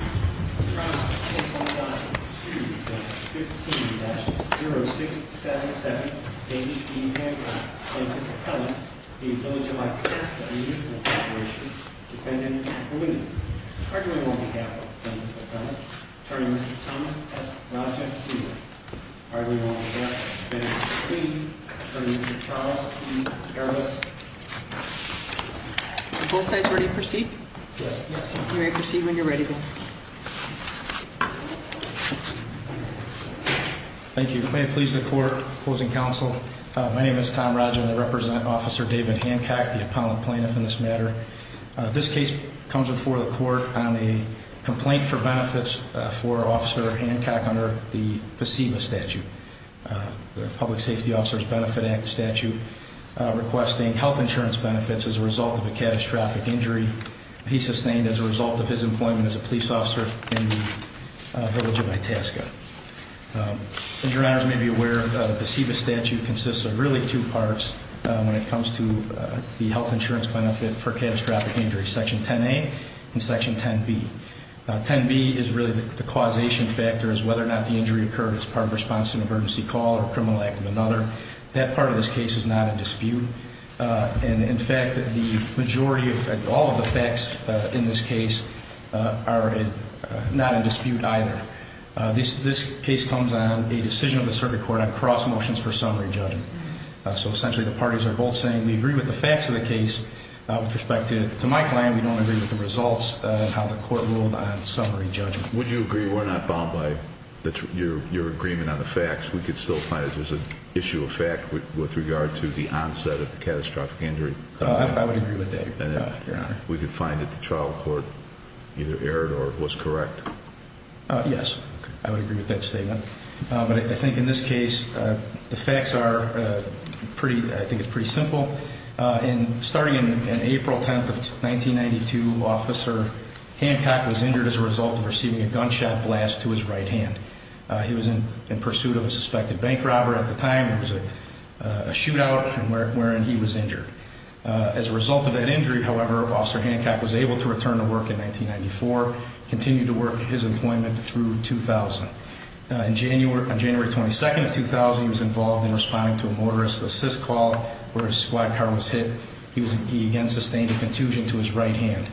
2-15-0677 David E. Hancock, plaintiff's appellant, v. Village of Itasca Unusual Appropriations, Defendant Perlini Arguing on behalf of the plaintiff's appellant, Attorney Mr. Thomas S. Raja-Friedman Arguing on behalf of the defendant's client, Attorney Mr. Charles E. Harris Are both sides ready to proceed? Yes. You may proceed when you're ready. Thank you. May it please the court, opposing counsel, my name is Tom Raja and I represent Officer David Hancock, the appellant plaintiff in this matter. This case comes before the court on a complaint for benefits for Officer Hancock under the PSEBA statute, the Public Safety Officers Benefit Act statute, requesting health insurance benefits as a result of a catastrophic injury he sustained as a result of his employment as a police officer in the Village of Itasca. As your honors may be aware, the PSEBA statute consists of really two parts when it comes to the health insurance benefit for catastrophic injuries, Section 10A and Section 10B. 10B is really the causation factor is whether or not the injury occurred as part of a response to an emergency call or criminal act of another. That part of this case is not in dispute. And in fact, the majority of all of the facts in this case are not in dispute either. This case comes on a decision of the circuit court on cross motions for summary judgment. So essentially the parties are both saying we agree with the facts of the case. With respect to my client, we don't agree with the results of how the court ruled on summary judgment. Would you agree we're not bound by your agreement on the facts? We could still find that there's an issue of fact with regard to the onset of the catastrophic injury? I would agree with that, your honor. We could find that the trial court either erred or was correct? Yes, I would agree with that statement. But I think in this case the facts are pretty, I think it's pretty simple. In starting in April 10th of 1992, Officer Hancock was injured as a result of receiving a gunshot blast to his right hand. He was in pursuit of a suspected bank robber at the time. It was a shootout wherein he was injured. As a result of that injury, however, Officer Hancock was able to return to work in 1994, continued to work his employment through 2000. On January 22nd of 2000, he was involved in responding to a motorist assist call where his squad car was hit. He again sustained a contusion to his right hand.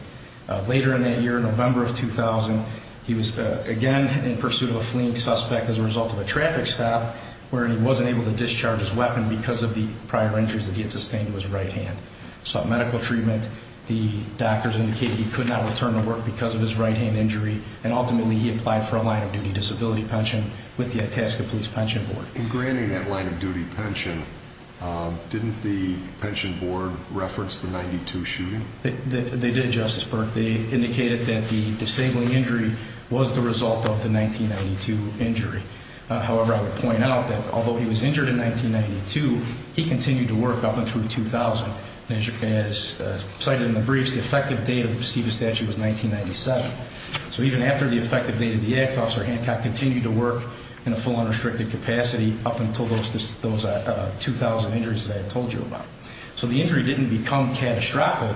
Later in that year, November of 2000, he was again in pursuit of a fleeing suspect as a result of a traffic stop where he wasn't able to discharge his weapon because of the prior injuries that he had sustained to his right hand. He sought medical treatment. The doctors indicated he could not return to work because of his right hand injury. Ultimately, he applied for a line-of-duty disability pension with the Itasca Police Pension Board. In granting that line-of-duty pension, didn't the pension board reference the 92 shooting? They did, Justice Burke. They indicated that the disabling injury was the result of the 1992 injury. However, I would point out that although he was injured in 1992, he continued to work up until 2000. As cited in the briefs, the effective date of the PSEBA statute was 1997. So even after the effective date of the act, Officer Hancock continued to work in a full unrestricted capacity up until those 2000 injuries that I had told you about. So the injury didn't become catastrophic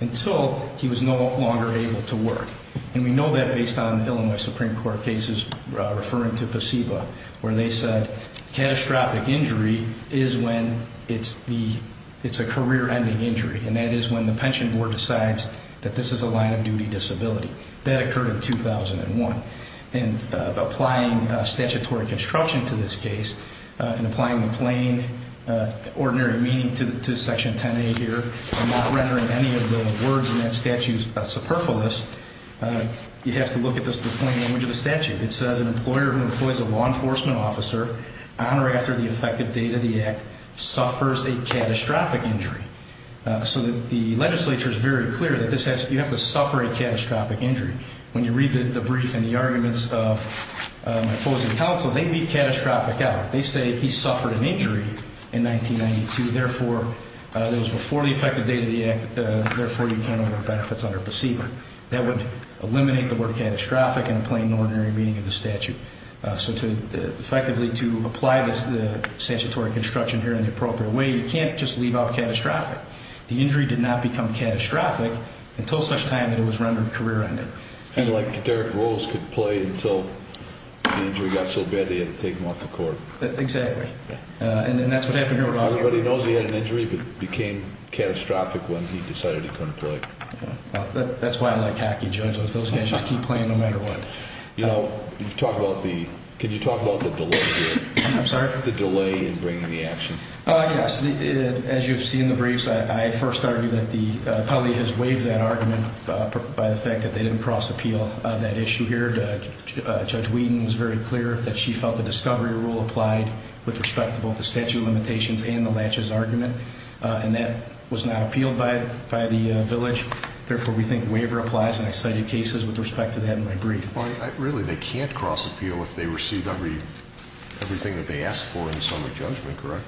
until he was no longer able to work. And we know that based on Illinois Supreme Court cases referring to PSEBA where they said catastrophic injury is when it's a career-ending injury, and that is when the pension board decides that this is a line-of-duty disability. That occurred in 2001. And applying statutory construction to this case and applying the plain, ordinary meaning to Section 10A here and not rendering any of the words in that statute superfluous, you have to look at the plain language of the statute. It says an employer who employs a law enforcement officer on or after the effective date of the act suffers a catastrophic injury. So the legislature is very clear that you have to suffer a catastrophic injury. When you read the brief and the arguments of opposing counsel, they leave catastrophic out. They say he suffered an injury in 1992. Therefore, it was before the effective date of the act. Therefore, you can't award benefits under PSEBA. That would eliminate the word catastrophic in the plain, ordinary meaning of the statute. So effectively, to apply the statutory construction here in the appropriate way, you can't just leave out catastrophic. The injury did not become catastrophic until such time that it was rendered career-ending. It's kind of like Derrick Rose could play until the injury got so bad he had to take him off the court. Exactly. And that's what happened here. Everybody knows he had an injury but became catastrophic when he decided he couldn't play. That's why I like hacky judges. Those guys just keep playing no matter what. You know, can you talk about the delay here? I'm sorry? The delay in bringing the action. Yes. As you've seen in the briefs, I first argue that the appellee has waived that argument by the fact that they didn't cross-appeal that issue here. Judge Whedon was very clear that she felt the discovery rule applied with respect to both the statute of limitations and the latches argument. And that was not appealed by the village. Therefore, we think waiver applies. And I cited cases with respect to that in my brief. Really, they can't cross-appeal if they receive everything that they asked for in the summary judgment, correct?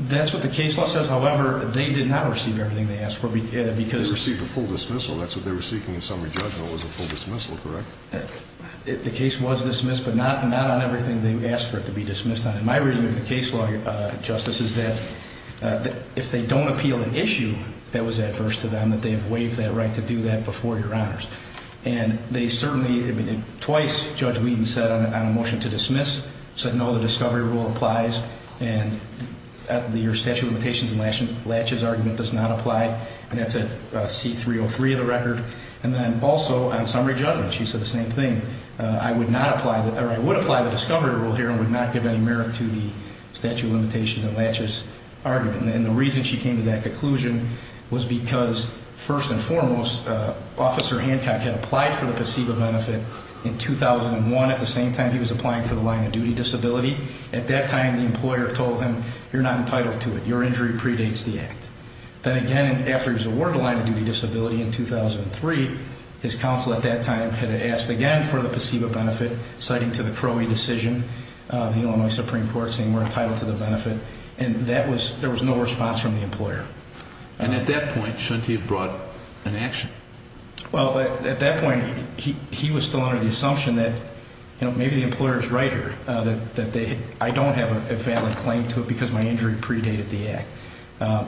That's what the case law says. However, they did not receive everything they asked for. They received a full dismissal. That's what they were seeking in summary judgment was a full dismissal, correct? The case was dismissed but not on everything they asked for it to be dismissed on. My reading of the case law, Justice, is that if they don't appeal an issue that was adverse to them, that they have waived that right to do that before Your Honors. And they certainly, I mean, twice Judge Whedon said on a motion to dismiss, said no, the discovery rule applies. And your statute of limitations and latches argument does not apply. And that's at C-303 of the record. And then also on summary judgment, she said the same thing. I would apply the discovery rule here and would not give any merit to the statute of limitations and latches argument. And the reason she came to that conclusion was because, first and foremost, Officer Hancock had applied for the placebo benefit in 2001. At the same time, he was applying for the line of duty disability. At that time, the employer told him, you're not entitled to it. Your injury predates the act. Then again, after he was awarded the line of duty disability in 2003, his counsel at that time had asked again for the placebo benefit, citing to the Crowley decision. The Illinois Supreme Court saying we're entitled to the benefit. And there was no response from the employer. And at that point, shouldn't he have brought an action? Well, at that point, he was still under the assumption that maybe the employer is right here, that I don't have a valid claim to it because my injury predated the act.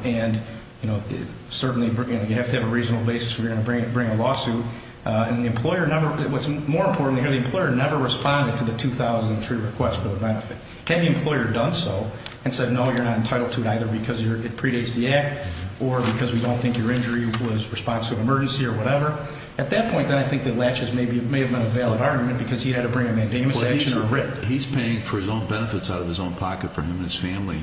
And, you know, certainly you have to have a reasonable basis if you're going to bring a lawsuit. And the employer never, what's more important here, the employer never responded to the 2003 request for the benefit. Had the employer done so and said, no, you're not entitled to it either because it predates the act or because we don't think your injury was responsive to an emergency or whatever, at that point then I think that latches may have been a valid argument because he had to bring a mandamus action or written. But he's paying for his own benefits out of his own pocket for him and his family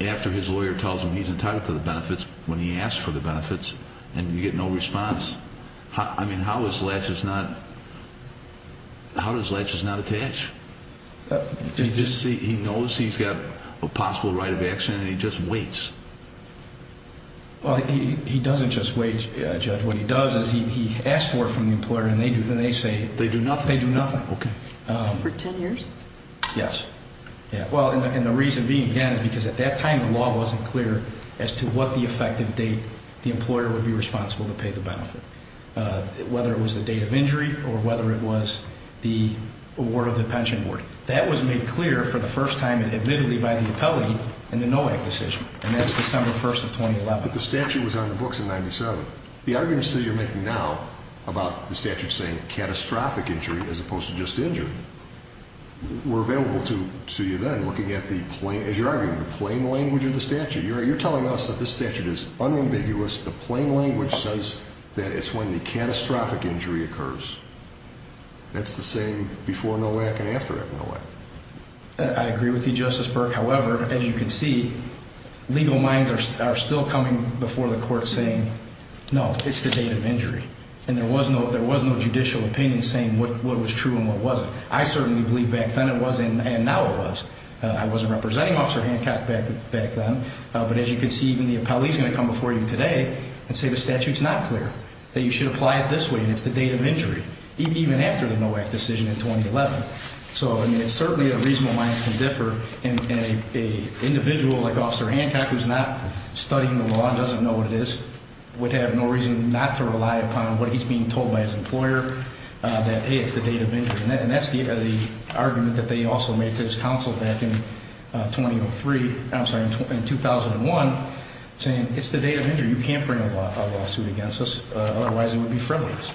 after his lawyer tells him he's entitled to the benefits when he asks for the benefits and you get no response. I mean, how is latches not, how does latches not attach? He knows he's got a possible right of action and he just waits. Well, he doesn't just wait, Judge. What he does is he asks for it from the employer and they do nothing. They do nothing. Okay. For 10 years? Yes. Well, and the reason being, again, is because at that time the law wasn't clear as to what the effective date the employer would be responsible to pay the benefit. Whether it was the date of injury or whether it was the award of the pension board. That was made clear for the first time admittedly by the appellate in the NOAC decision and that's December 1st of 2011. But the statute was on the books in 97. The arguments that you're making now about the statute saying catastrophic injury as opposed to just injury were available to you then looking at the plain, as you're arguing, the plain language of the statute. You're telling us that this statute is unambiguous, the plain language says that it's when the catastrophic injury occurs. That's the same before NOAC and after NOAC. I agree with you, Justice Burke. However, as you can see, legal minds are still coming before the court saying, no, it's the date of injury. And there was no judicial opinion saying what was true and what wasn't. I certainly believe back then it was and now it was. I wasn't representing Officer Hancock back then. But as you can see, even the appellee's going to come before you today and say the statute's not clear, that you should apply it this way and it's the date of injury. Even after the NOAC decision in 2011. So, I mean, certainly the reasonable minds can differ. And an individual like Officer Hancock, who's not studying the law and doesn't know what it is, would have no reason not to rely upon what he's being told by his employer that, hey, it's the date of injury. And that's the argument that they also made to his counsel back in 2003, I'm sorry, in 2001, saying it's the date of injury. You can't bring a lawsuit against us, otherwise it would be frivolous.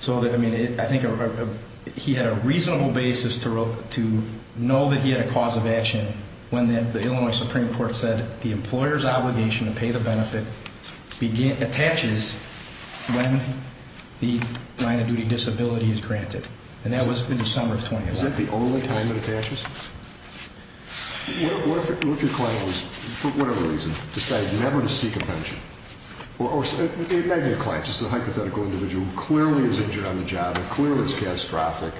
So, I mean, I think he had a reasonable basis to know that he had a cause of action when the Illinois Supreme Court said the employer's obligation to pay the benefit attaches when the line of duty disability is granted. And that was in December of 2011. Is that the only time it attaches? What if your client was, for whatever reason, decided never to seek a pension? Or maybe a client, just a hypothetical individual who clearly is injured on the job, who clearly is catastrophic,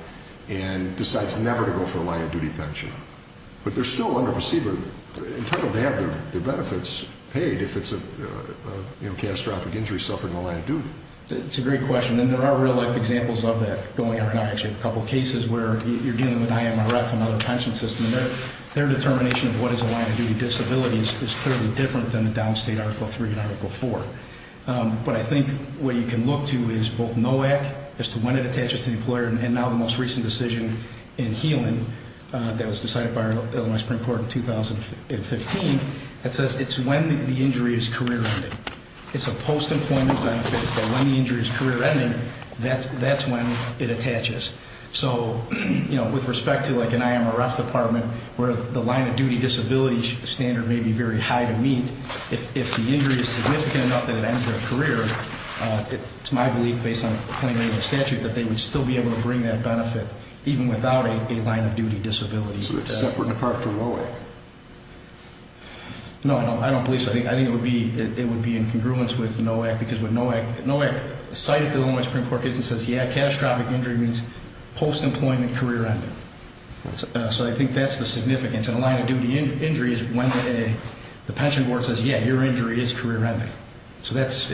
and decides never to go for a line of duty pension. But they're still under procedure, entitled to have their benefits paid if it's a catastrophic injury, suffering a line of duty. That's a great question. And there are real-life examples of that going on. I actually have a couple cases where you're dealing with IMRF and other pension systems. And their determination of what is a line of duty disability is clearly different than the downstate Article III and Article IV. But I think what you can look to is both NOAC, as to when it attaches to the employer, and now the most recent decision in healing that was decided by Illinois Supreme Court in 2015. It says it's when the injury is career-ending. It's a post-employment benefit, but when the injury is career-ending, that's when it attaches. So, you know, with respect to, like, an IMRF department, where the line of duty disability standard may be very high to meet, if the injury is significant enough that it ends their career, it's my belief, based on planning and statute, that they would still be able to bring that benefit, even without a line of duty disability. So it's separate and apart from NOAC? No, I don't believe so. I think it would be in congruence with NOAC. Because what NOAC cited to Illinois Supreme Court is, it says, yeah, catastrophic injury means post-employment career-ending. So I think that's the significance. And a line of duty injury is when the pension board says, yeah, your injury is career-ending. So it's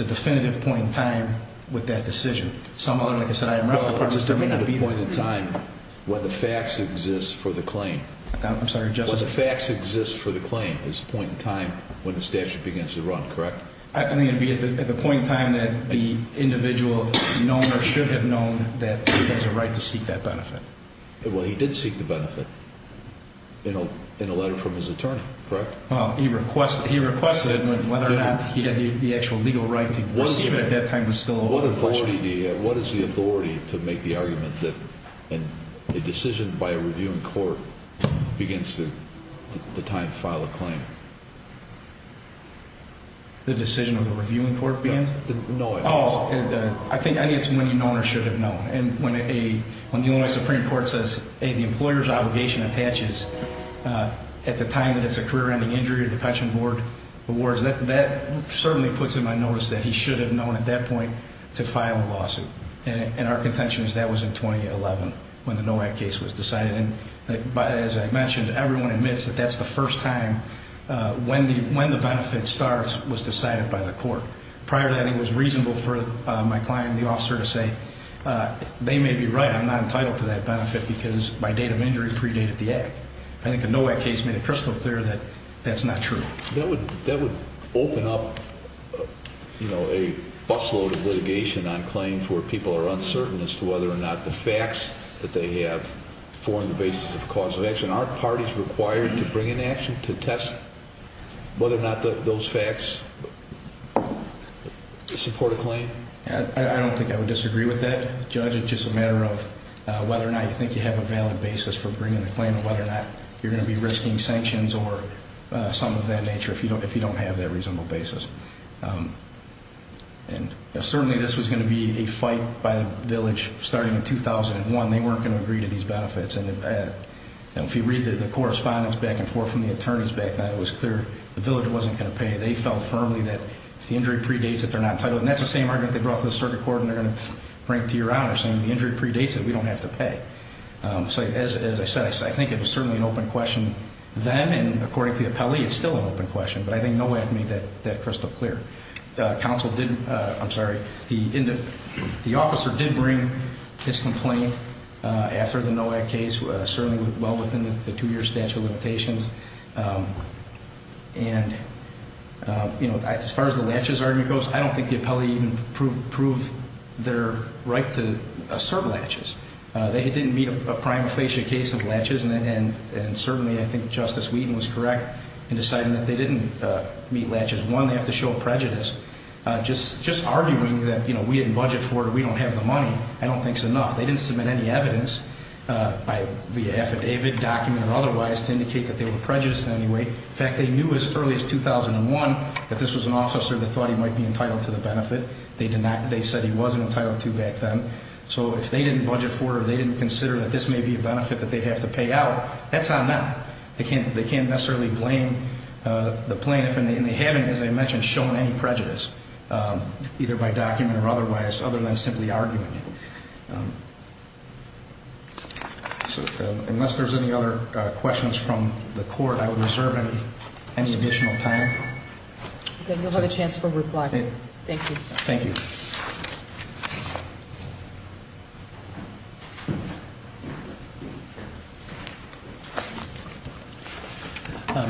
a definitive point in time with that decision. Some other, like I said, IMRF departments, there may not be that. Well, it's a definitive point in time when the facts exist for the claim. I'm sorry, Justice? When the facts exist for the claim is a point in time when the statute begins to run, correct? I think it would be at the point in time that the individual known or should have known that he has a right to seek that benefit. Well, he did seek the benefit in a letter from his attorney, correct? Well, he requested it, but whether or not he had the actual legal right to receive it at that time was still a question. What authority do you have? What is the authority to make the argument that a decision by a review in court begins the time to file a claim? The decision of the review in court begins? No. Oh, I think it's when you know or should have known. And when the Illinois Supreme Court says, hey, the employer's obligation attaches at the time that it's a career-ending injury or the pension board awards, that certainly puts him on notice that he should have known at that point to file a lawsuit. And our contention is that was in 2011 when the NOAC case was decided. And as I mentioned, everyone admits that that's the first time when the benefit starts was decided by the court. Prior to that, it was reasonable for my client, the officer, to say they may be right. I'm not entitled to that benefit because my date of injury predated the act. I think the NOAC case made it crystal clear that that's not true. That would open up a busload of litigation on claims where people are uncertain as to whether or not the facts that they have form the basis of a cause of action. Are parties required to bring in action to test whether or not those facts support a claim? I don't think I would disagree with that, Judge. It's just a matter of whether or not you think you have a valid basis for bringing a claim and whether or not you're going to be risking sanctions or something of that nature if you don't have that reasonable basis. And certainly this was going to be a fight by the village starting in 2001. They weren't going to agree to these benefits. And if you read the correspondence back and forth from the attorneys back then, it was clear the village wasn't going to pay. They felt firmly that if the injury predates it, they're not entitled. And that's the same argument they brought to the circuit court and they're going to bring to Your Honor, saying the injury predates it. We don't have to pay. So as I said, I think it was certainly an open question then, and according to the appellee, it's still an open question. But I think NOAC made that crystal clear. The officer did bring his complaint after the NOAC case, certainly well within the two-year statute of limitations. And as far as the latches argument goes, I don't think the appellee even proved their right to assert latches. They didn't meet a prima facie case of latches, and certainly I think Justice Wheaton was correct in deciding that they didn't meet latches. One, they have to show prejudice. Just arguing that we didn't budget for it or we don't have the money, I don't think is enough. They didn't submit any evidence via affidavit, document, or otherwise to indicate that they were prejudiced in any way. In fact, they knew as early as 2001 that this was an officer that thought he might be entitled to the benefit. They said he wasn't entitled to back then. So if they didn't budget for it or they didn't consider that this may be a benefit that they'd have to pay out, that's on them. They can't necessarily blame the plaintiff, and they haven't, as I mentioned, shown any prejudice, either by document or otherwise, other than simply arguing it. So unless there's any other questions from the court, I would reserve any additional time. Then you'll have a chance for reply. Thank you. Thank you.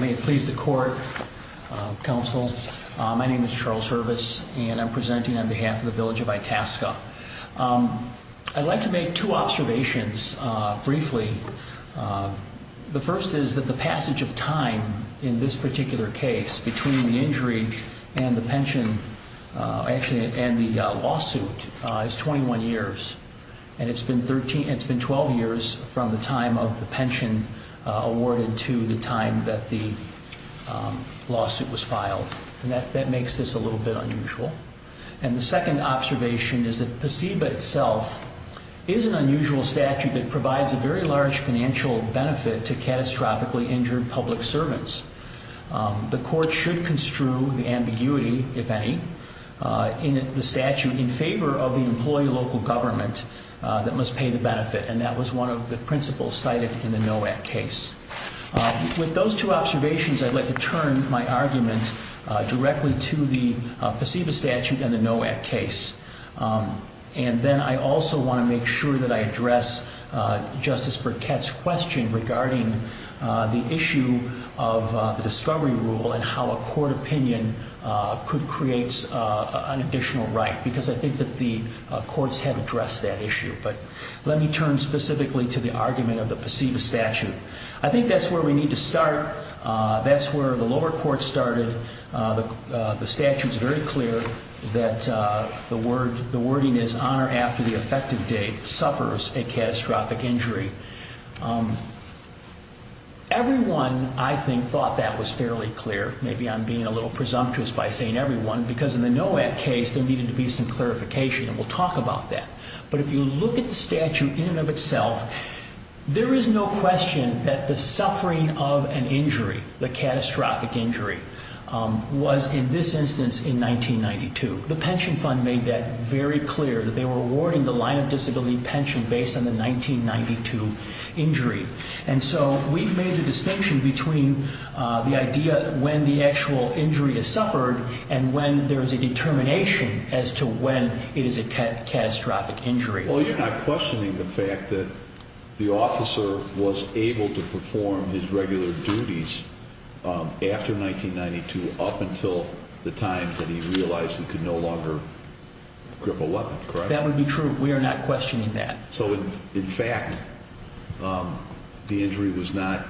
May it please the court, counsel. My name is Charles Hervis, and I'm presenting on behalf of the village of Itasca. I'd like to make two observations briefly. The first is that the passage of time in this particular case between the injury and the pension, actually and the lawsuit, is 21 years. And it's been 12 years from the time of the pension awarded to the time that the lawsuit was filed. And that makes this a little bit unusual. And the second observation is that PSEBA itself is an unusual statute that provides a very large financial benefit to catastrophically injured public servants. The court should construe the ambiguity, if any, in the statute in favor of the employee local government that must pay the benefit. And that was one of the principles cited in the NOAC case. With those two observations, I'd like to turn my argument directly to the PSEBA statute and the NOAC case. And then I also want to make sure that I address Justice Burkett's question regarding the issue of the discovery rule and how a court opinion could create an additional right, because I think that the courts have addressed that issue. But let me turn specifically to the argument of the PSEBA statute. I think that's where we need to start. That's where the lower court started. The statute's very clear that the wording is, on or after the effective date, suffers a catastrophic injury. Everyone, I think, thought that was fairly clear. Maybe I'm being a little presumptuous by saying everyone, because in the NOAC case, there needed to be some clarification. And we'll talk about that. But if you look at the statute in and of itself, there is no question that the suffering of an injury, the catastrophic injury, was in this instance in 1992. The Pension Fund made that very clear, that they were awarding the line of disability pension based on the 1992 injury. And so we've made the distinction between the idea when the actual injury is suffered and when there is a determination as to when it is a catastrophic injury. Well, you're not questioning the fact that the officer was able to perform his regular duties after 1992 up until the time that he realized he could no longer grip a weapon, correct? That would be true. We are not questioning that. So, in fact, the injury was not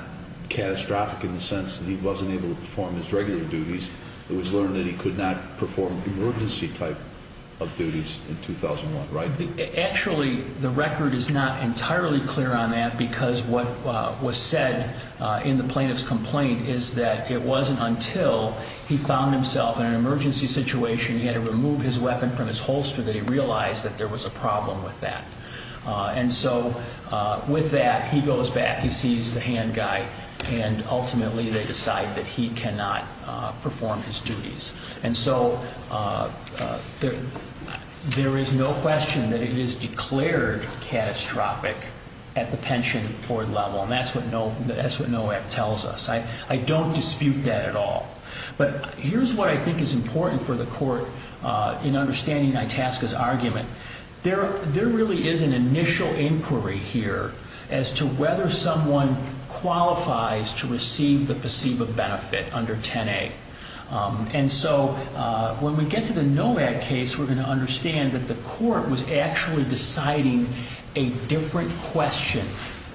catastrophic in the sense that he wasn't able to perform his regular duties. It was learned that he could not perform emergency type of duties in 2001, right? Actually, the record is not entirely clear on that because what was said in the plaintiff's complaint is that it wasn't until he found himself in an emergency situation and he had to remove his weapon from his holster that he realized that there was a problem with that. And so with that, he goes back, he sees the hand guy, and ultimately they decide that he cannot perform his duties. And so there is no question that it is declared catastrophic at the pension board level. And that's what NOAC tells us. I don't dispute that at all. But here's what I think is important for the court in understanding Itasca's argument. There really is an initial inquiry here as to whether someone qualifies to receive the PSEBA benefit under 10A. And so when we get to the NOAC case, we're going to understand that the court was actually deciding a different question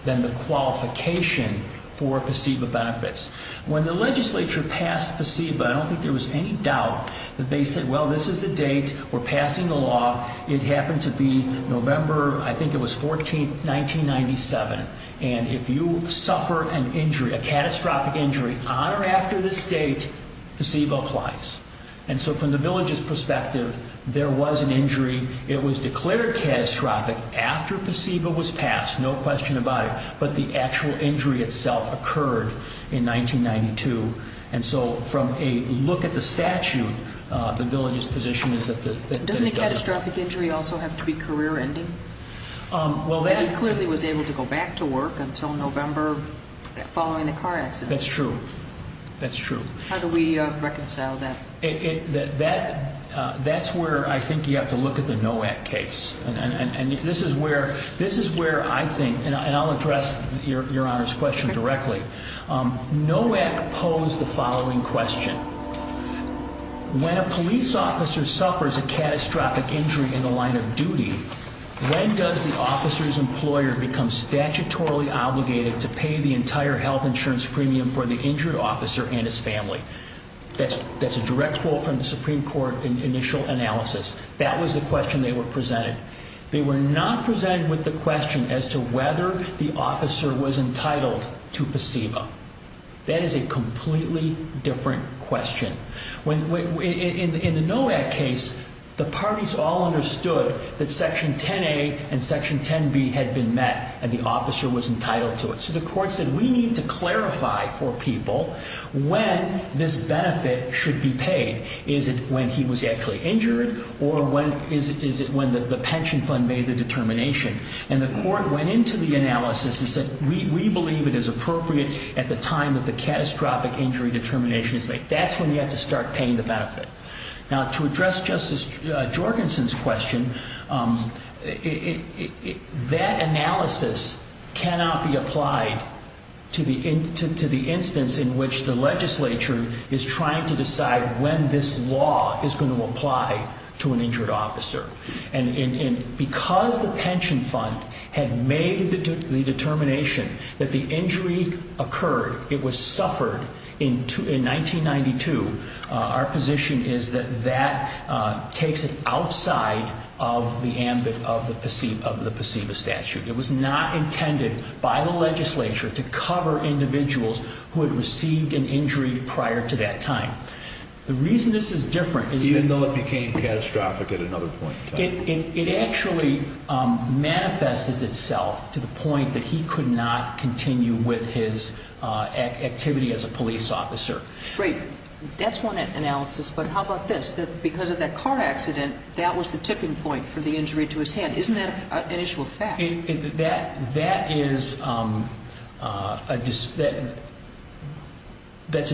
than the qualification for PSEBA benefits. When the legislature passed PSEBA, I don't think there was any doubt that they said, well, this is the date, we're passing the law. It happened to be November, I think it was 14th, 1997. And if you suffer an injury, a catastrophic injury on or after this date, PSEBA applies. And so from the village's perspective, there was an injury. It was declared catastrophic after PSEBA was passed, no question about it. But the actual injury itself occurred in 1992. And so from a look at the statute, the village's position is that it doesn't. Doesn't a catastrophic injury also have to be career-ending? He clearly was able to go back to work until November following the car accident. That's true. That's true. How do we reconcile that? That's where I think you have to look at the NOAC case. And this is where I think, and I'll address Your Honor's question directly. NOAC posed the following question. When a police officer suffers a catastrophic injury in the line of duty, when does the officer's employer become statutorily obligated to pay the entire health insurance premium for the injured officer and his family? That's a direct quote from the Supreme Court initial analysis. That was the question they were presented. They were not presented with the question as to whether the officer was entitled to PSEBA. That is a completely different question. In the NOAC case, the parties all understood that Section 10A and Section 10B had been met and the officer was entitled to it. So the court said, we need to clarify for people when this benefit should be paid. Is it when he was actually injured or is it when the pension fund made the determination? And the court went into the analysis and said, we believe it is appropriate at the time that the catastrophic injury determination is made. That's when you have to start paying the benefit. Now, to address Justice Jorgensen's question, that analysis cannot be applied to the instance in which the legislature is trying to decide when this law is going to apply to an injured officer. And because the pension fund had made the determination that the injury occurred, it was suffered in 1992, our position is that that takes it outside of the ambit of the PSEBA statute. It was not intended by the legislature to cover individuals who had received an injury prior to that time. The reason this is different is that... Even though it became catastrophic at another point in time. It actually manifests itself to the point that he could not continue with his activity as a police officer. Great. That's one analysis, but how about this? Because of that car accident, that was the tipping point for the injury to his hand. Isn't that an issue of fact? That is a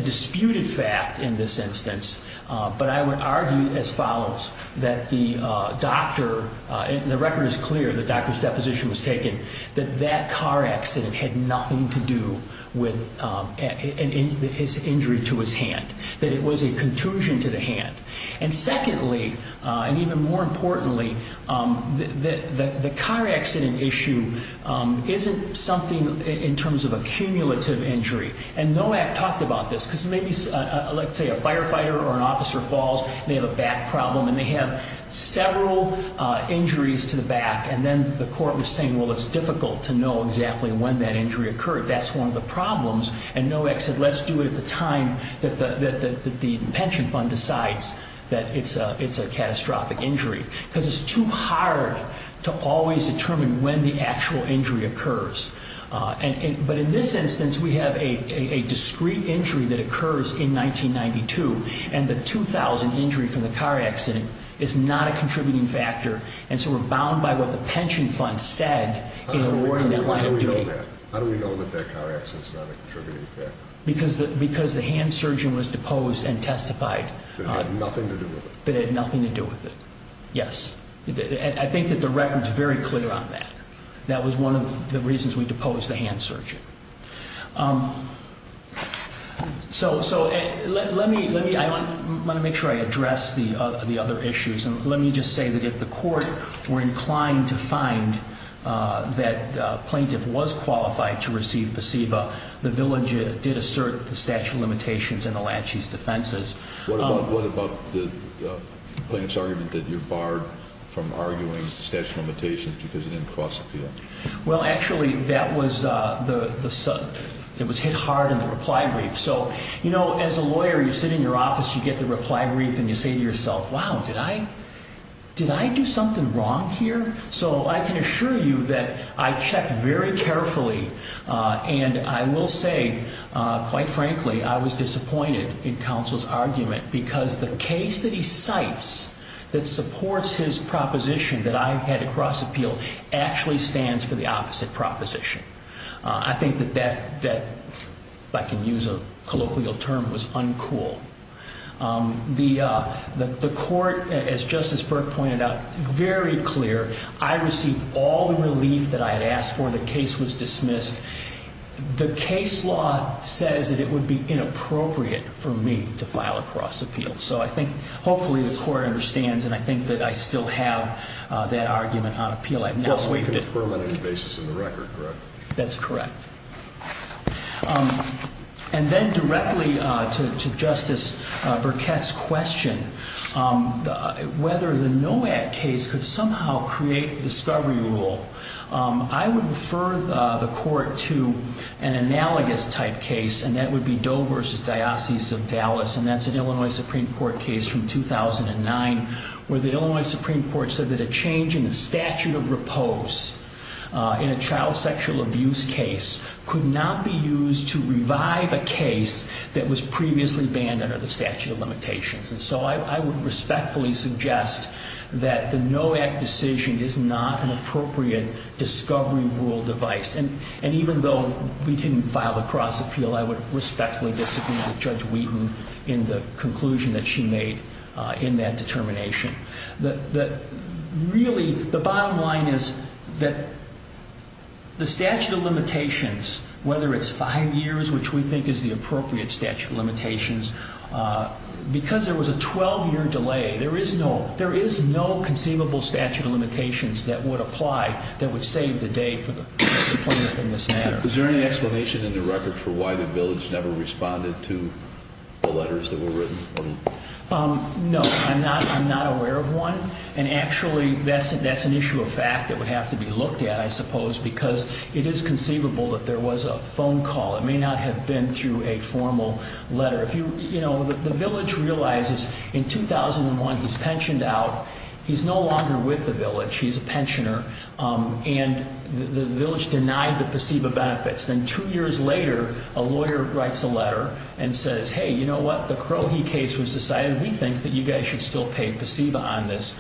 disputed fact in this instance, but I would argue as follows, that the doctor, and the record is clear that the doctor's deposition was taken, that that car accident had nothing to do with his injury to his hand. That it was a contusion to the hand. And secondly, and even more importantly, the car accident issue isn't something in terms of a cumulative injury. And NOAC talked about this. Let's say a firefighter or an officer falls, they have a back problem and they have several injuries to the back, and then the court was saying, well, it's difficult to know exactly when that injury occurred. That's one of the problems. And NOAC said, let's do it at the time that the pension fund decides that it's a catastrophic injury, because it's too hard to always determine when the actual injury occurs. But in this instance, we have a discrete injury that occurs in 1992, and the 2,000 injury from the car accident is not a contributing factor, and so we're bound by what the pension fund said in awarding that liability. How do we know that? How do we know that that car accident is not a contributing factor? Because the hand surgeon was deposed and testified. That it had nothing to do with it. That it had nothing to do with it, yes. I think that the record is very clear on that. That was one of the reasons we deposed the hand surgeon. So let me, I want to make sure I address the other issues, and let me just say that if the court were inclined to find that a plaintiff was qualified to receive PCEVA, the village did assert the statute of limitations and the lachie's defenses. What about the plaintiff's argument that you're barred from arguing statute of limitations because it didn't cross appeal? Well, actually, that was hit hard in the reply brief. So, you know, as a lawyer, you sit in your office, you get the reply brief, and you say to yourself, wow, did I do something wrong here? So I can assure you that I checked very carefully, and I will say, quite frankly, I was disappointed in counsel's argument because the case that he cites that supports his proposition that I had to cross appeal actually stands for the opposite proposition. I think that that, if I can use a colloquial term, was uncool. The court, as Justice Burke pointed out, very clear. I received all the relief that I had asked for. The case was dismissed. The case law says that it would be inappropriate for me to file a cross appeal. So I think hopefully the court understands, and I think that I still have that argument on appeal. I've now waived it. Well, so you confirm it on the basis of the record, correct? That's correct. And then directly to Justice Burkett's question, whether the NOAC case could somehow create the discovery rule, I would refer the court to an analogous type case, and that would be Doe v. Diocese of Dallas, and that's an Illinois Supreme Court case from 2009, where the Illinois Supreme Court said that a change in the statute of repose in a child sexual abuse case could not be used to revive a case that was previously banned under the statute of limitations. And so I would respectfully suggest that the NOAC decision is not an appropriate discovery rule device. And even though we didn't file a cross appeal, I would respectfully disagree with Judge Wheaton in the conclusion that she made in that determination. Really, the bottom line is that the statute of limitations, whether it's five years, which we think is the appropriate statute of limitations, because there was a 12-year delay, there is no conceivable statute of limitations that would apply that would save the day for the plaintiff in this matter. Is there any explanation in the record for why the village never responded to the letters that were written? No, I'm not aware of one. And actually, that's an issue of fact that would have to be looked at, I suppose, because it is conceivable that there was a phone call. It may not have been through a formal letter. The village realizes in 2001 he's pensioned out. He's no longer with the village. He's a pensioner. And the village denied the PSEBA benefits. Then two years later, a lawyer writes a letter and says, hey, you know what? The Crohe case was decided. We think that you guys should still pay PSEBA on this.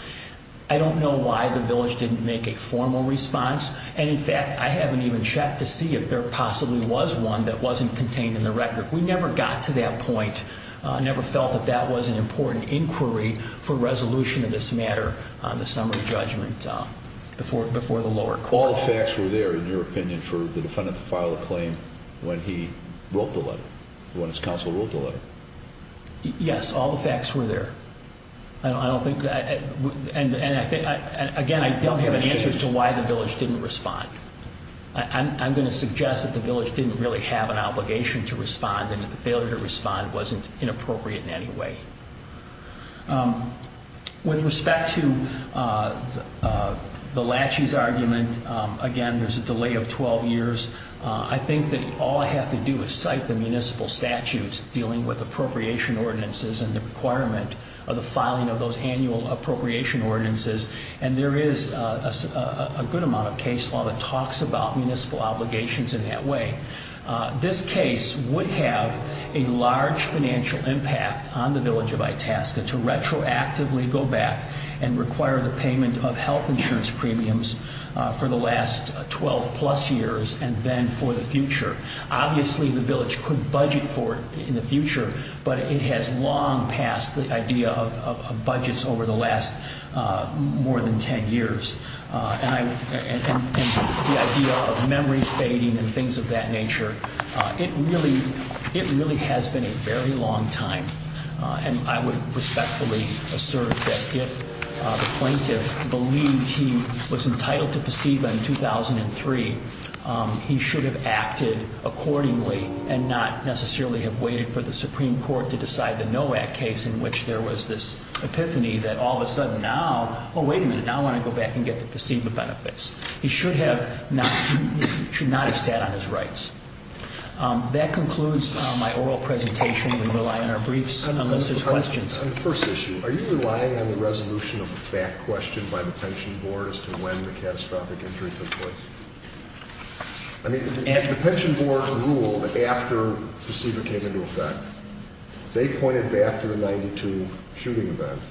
I don't know why the village didn't make a formal response. And, in fact, I haven't even checked to see if there possibly was one that wasn't contained in the record. We never got to that point. I never felt that that was an important inquiry for resolution of this matter on the summary judgment before the lower court. All the facts were there, in your opinion, for the defendant to file a claim when he wrote the letter, when his counsel wrote the letter. Yes, all the facts were there. And, again, I don't have any answers to why the village didn't respond. I'm going to suggest that the village didn't really have an obligation to respond and that the failure to respond wasn't inappropriate in any way. With respect to the Lachey's argument, again, there's a delay of 12 years. I think that all I have to do is cite the municipal statutes dealing with appropriation ordinances and the requirement of the filing of those annual appropriation ordinances. And there is a good amount of case law that talks about municipal obligations in that way. This case would have a large financial impact on the village of Itasca to retroactively go back and require the payment of health insurance premiums for the last 12-plus years and then for the future. Obviously, the village could budget for it in the future, but it has long passed the idea of budgets over the last more than 10 years. And the idea of memories fading and things of that nature, it really has been a very long time. And I would respectfully assert that if the plaintiff believed he was entitled to proceed by 2003, he should have acted accordingly and not necessarily have waited for the Supreme Court to decide the NOAC case in which there was this epiphany that all of a sudden now, oh, wait a minute, now I want to go back and get the placebo benefits. He should not have sat on his rights. That concludes my oral presentation. We rely on our briefs unless there's questions. On the first issue, are you relying on the resolution of a fact question by the pension board as to when the catastrophic injury took place? I mean, the pension board ruled after placebo came into effect. They pointed back to the 92 shooting event.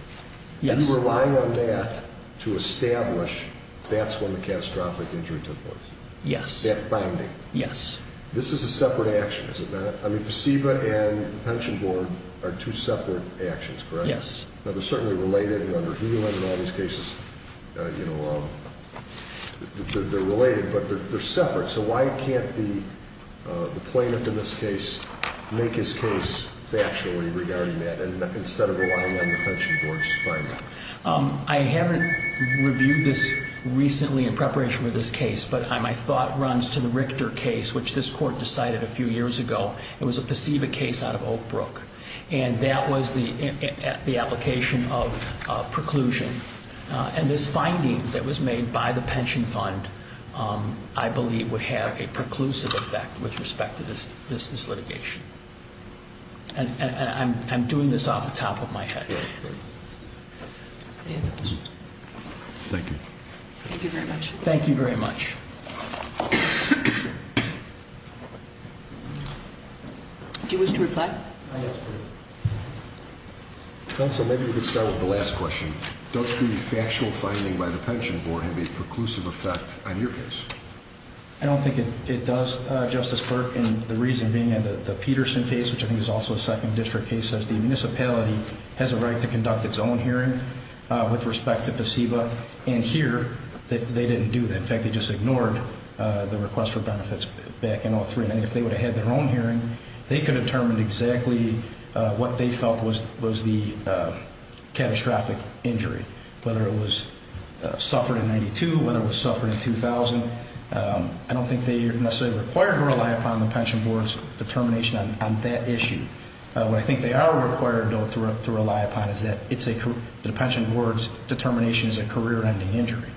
Yes. Are you relying on that to establish that's when the catastrophic injury took place? Yes. That finding? Yes. This is a separate action, is it not? I mean, placebo and the pension board are two separate actions, correct? Yes. Now, they're certainly related, and under Healand and all these cases, you know, they're related, but they're separate. So why can't the plaintiff in this case make his case factually regarding that instead of relying on the pension board's finding? I haven't reviewed this recently in preparation for this case, but my thought runs to the Richter case, which this court decided a few years ago. It was a placebo case out of Oak Brook, and that was the application of preclusion. And this finding that was made by the pension fund, I believe, would have a preclusive effect with respect to this litigation. And I'm doing this off the top of my head. Thank you. Thank you very much. Thank you very much. Do you wish to reply? I do. Counsel, maybe we could start with the last question. Does the factual finding by the pension board have a preclusive effect on your case? I don't think it does, Justice Clark, and the reason being in the Peterson case, which I think is also a second district case, as the municipality has a right to conduct its own hearing with respect to placebo. And here, they didn't do that. In fact, they just ignored the request for benefits back in 2003. And if they would have had their own hearing, they could have determined exactly what they felt was the catastrophic injury, whether it was suffered in 92, whether it was suffered in 2000. I don't think they are necessarily required to rely upon the pension board's determination on that issue. What I think they are required, though, to rely upon is that the pension board's determination is a career-ending injury.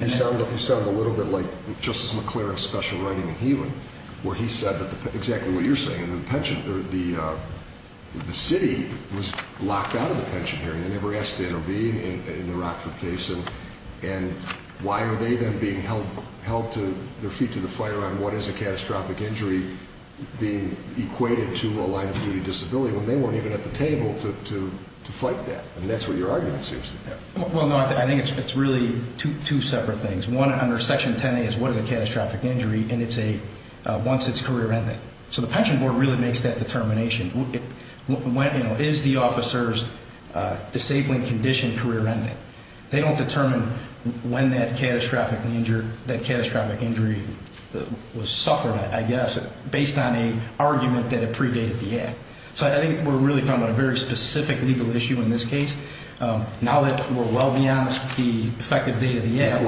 You sound a little bit like Justice McClaren's special writing in Heland, where he said exactly what you're saying. The city was locked out of the pension hearing. They never asked to intervene in the Rockford case. And why are they then being held to their feet to the fire on what is a catastrophic injury being equated to a liability disability when they weren't even at the table to fight that? And that's what your argument seems to be. Well, no, I think it's really two separate things. One under Section 10A is what is a catastrophic injury, and it's a once it's career-ending. So the pension board really makes that determination. Is the officer's disabling condition career-ending? They don't determine when that catastrophic injury was suffered, I guess, based on an argument that had predated the act. So I think we're really talking about a very specific legal issue in this case. Now that we're well beyond the effective date of the act, I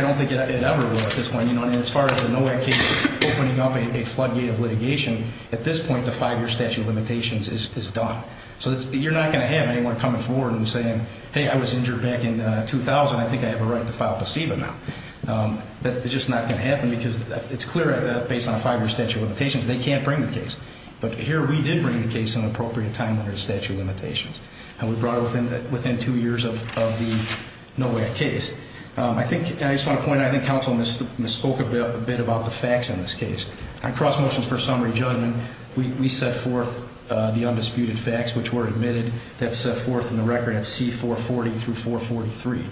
don't think it ever will at this point. And as far as the NOAC case opening up a floodgate of litigation, at this point the five-year statute of limitations is done. So you're not going to have anyone coming forward and saying, hey, I was injured back in 2000. I think I have a right to file placebo now. That's just not going to happen because it's clear based on a five-year statute of limitations they can't bring the case. But here we did bring the case in an appropriate time under the statute of limitations. And we brought it within two years of the NOAC case. I just want to point out, I think counsel misspoke a bit about the facts in this case. On cross motions for summary judgment, we set forth the undisputed facts which were admitted. That's set forth in the record at C440 through 443.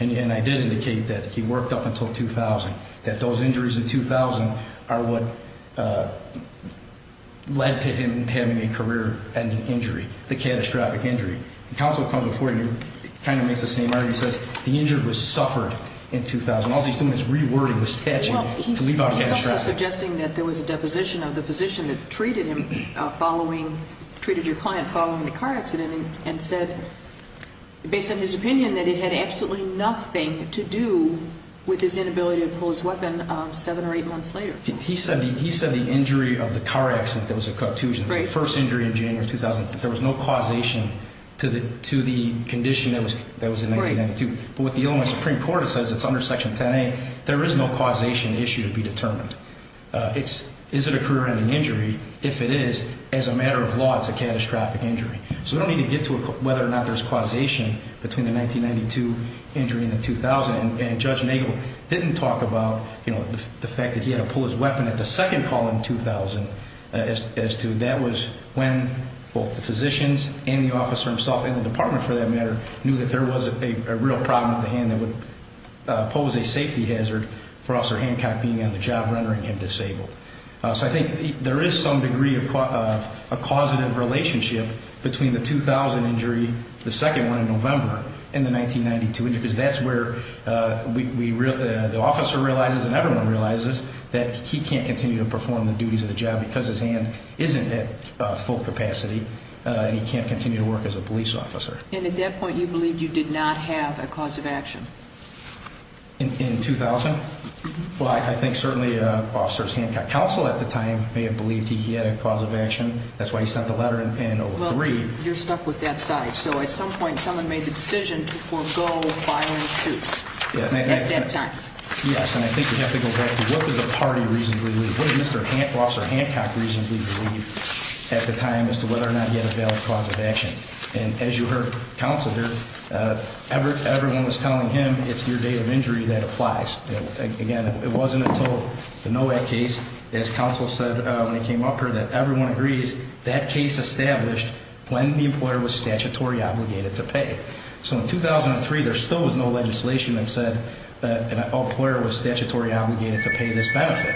And I did indicate that he worked up until 2000, that those injuries in 2000 are what led to him having a career-ending injury, the catastrophic injury. Counsel comes before you and kind of makes the same argument. He says the injured was suffered in 2000. All he's doing is rewording the statute to leave out catastrophic. He's also suggesting that there was a deposition of the physician that treated him following, treated your client following the car accident and said, based on his opinion, that it had absolutely nothing to do with his inability to pull his weapon seven or eight months later. He said the injury of the car accident that was a cocteuse, the first injury in January of 2000, there was no causation to the condition that was in 1992. But what the Illinois Supreme Court says, it's under Section 10A, there is no causation issue to be determined. Is it a career-ending injury? If it is, as a matter of law, it's a catastrophic injury. So we don't need to get to whether or not there's causation between the 1992 injury and the 2000. And Judge Nagel didn't talk about, you know, the fact that he had to pull his weapon at the second call in 2000, as to that was when both the physicians and the officer himself and the department, for that matter, knew that there was a real problem at hand that would pose a safety hazard for Officer Hancock being on the job, rendering him disabled. So I think there is some degree of causative relationship between the 2000 injury, the second one in November, and the 1992 injury, because that's where the officer realizes and everyone realizes that he can't continue to perform the duties of the job because his hand isn't at full capacity and he can't continue to work as a police officer. And at that point, you believed you did not have a cause of action? In 2000? Well, I think certainly Officer Hancock's counsel at the time may have believed he had a cause of action. That's why he sent the letter in 2003. Well, you're stuck with that side. So at some point, someone made the decision to forego filing suit at that time. Yes, and I think we have to go back to what did the party reasonably believe? What did Mr. Officer Hancock reasonably believe at the time as to whether or not he had a valid cause of action? And as you heard, Counselor, everyone was telling him it's your day of injury that applies. Again, it wasn't until the NOAC case, as Counselor said when he came up here, that everyone agrees that case established when the employer was statutory obligated to pay. So in 2003, there still was no legislation that said an employer was statutory obligated to pay this benefit.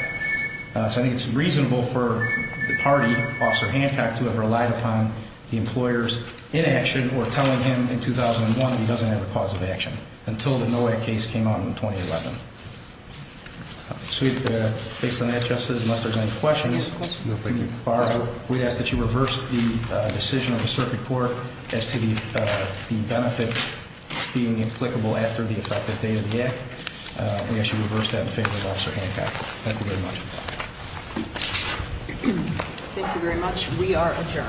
So I think it's reasonable for the party, Officer Hancock, to have relied upon the employer's inaction or telling him in 2001 he doesn't have a cause of action until the NOAC case came out in 2011. So based on that, Justice, unless there's any questions. No questions. We'd ask that you reverse the decision of the circuit court as to the benefit being applicable after the effective date of the act. We ask you reverse that in favor of Officer Hancock. Thank you very much. Thank you very much. We are adjourned.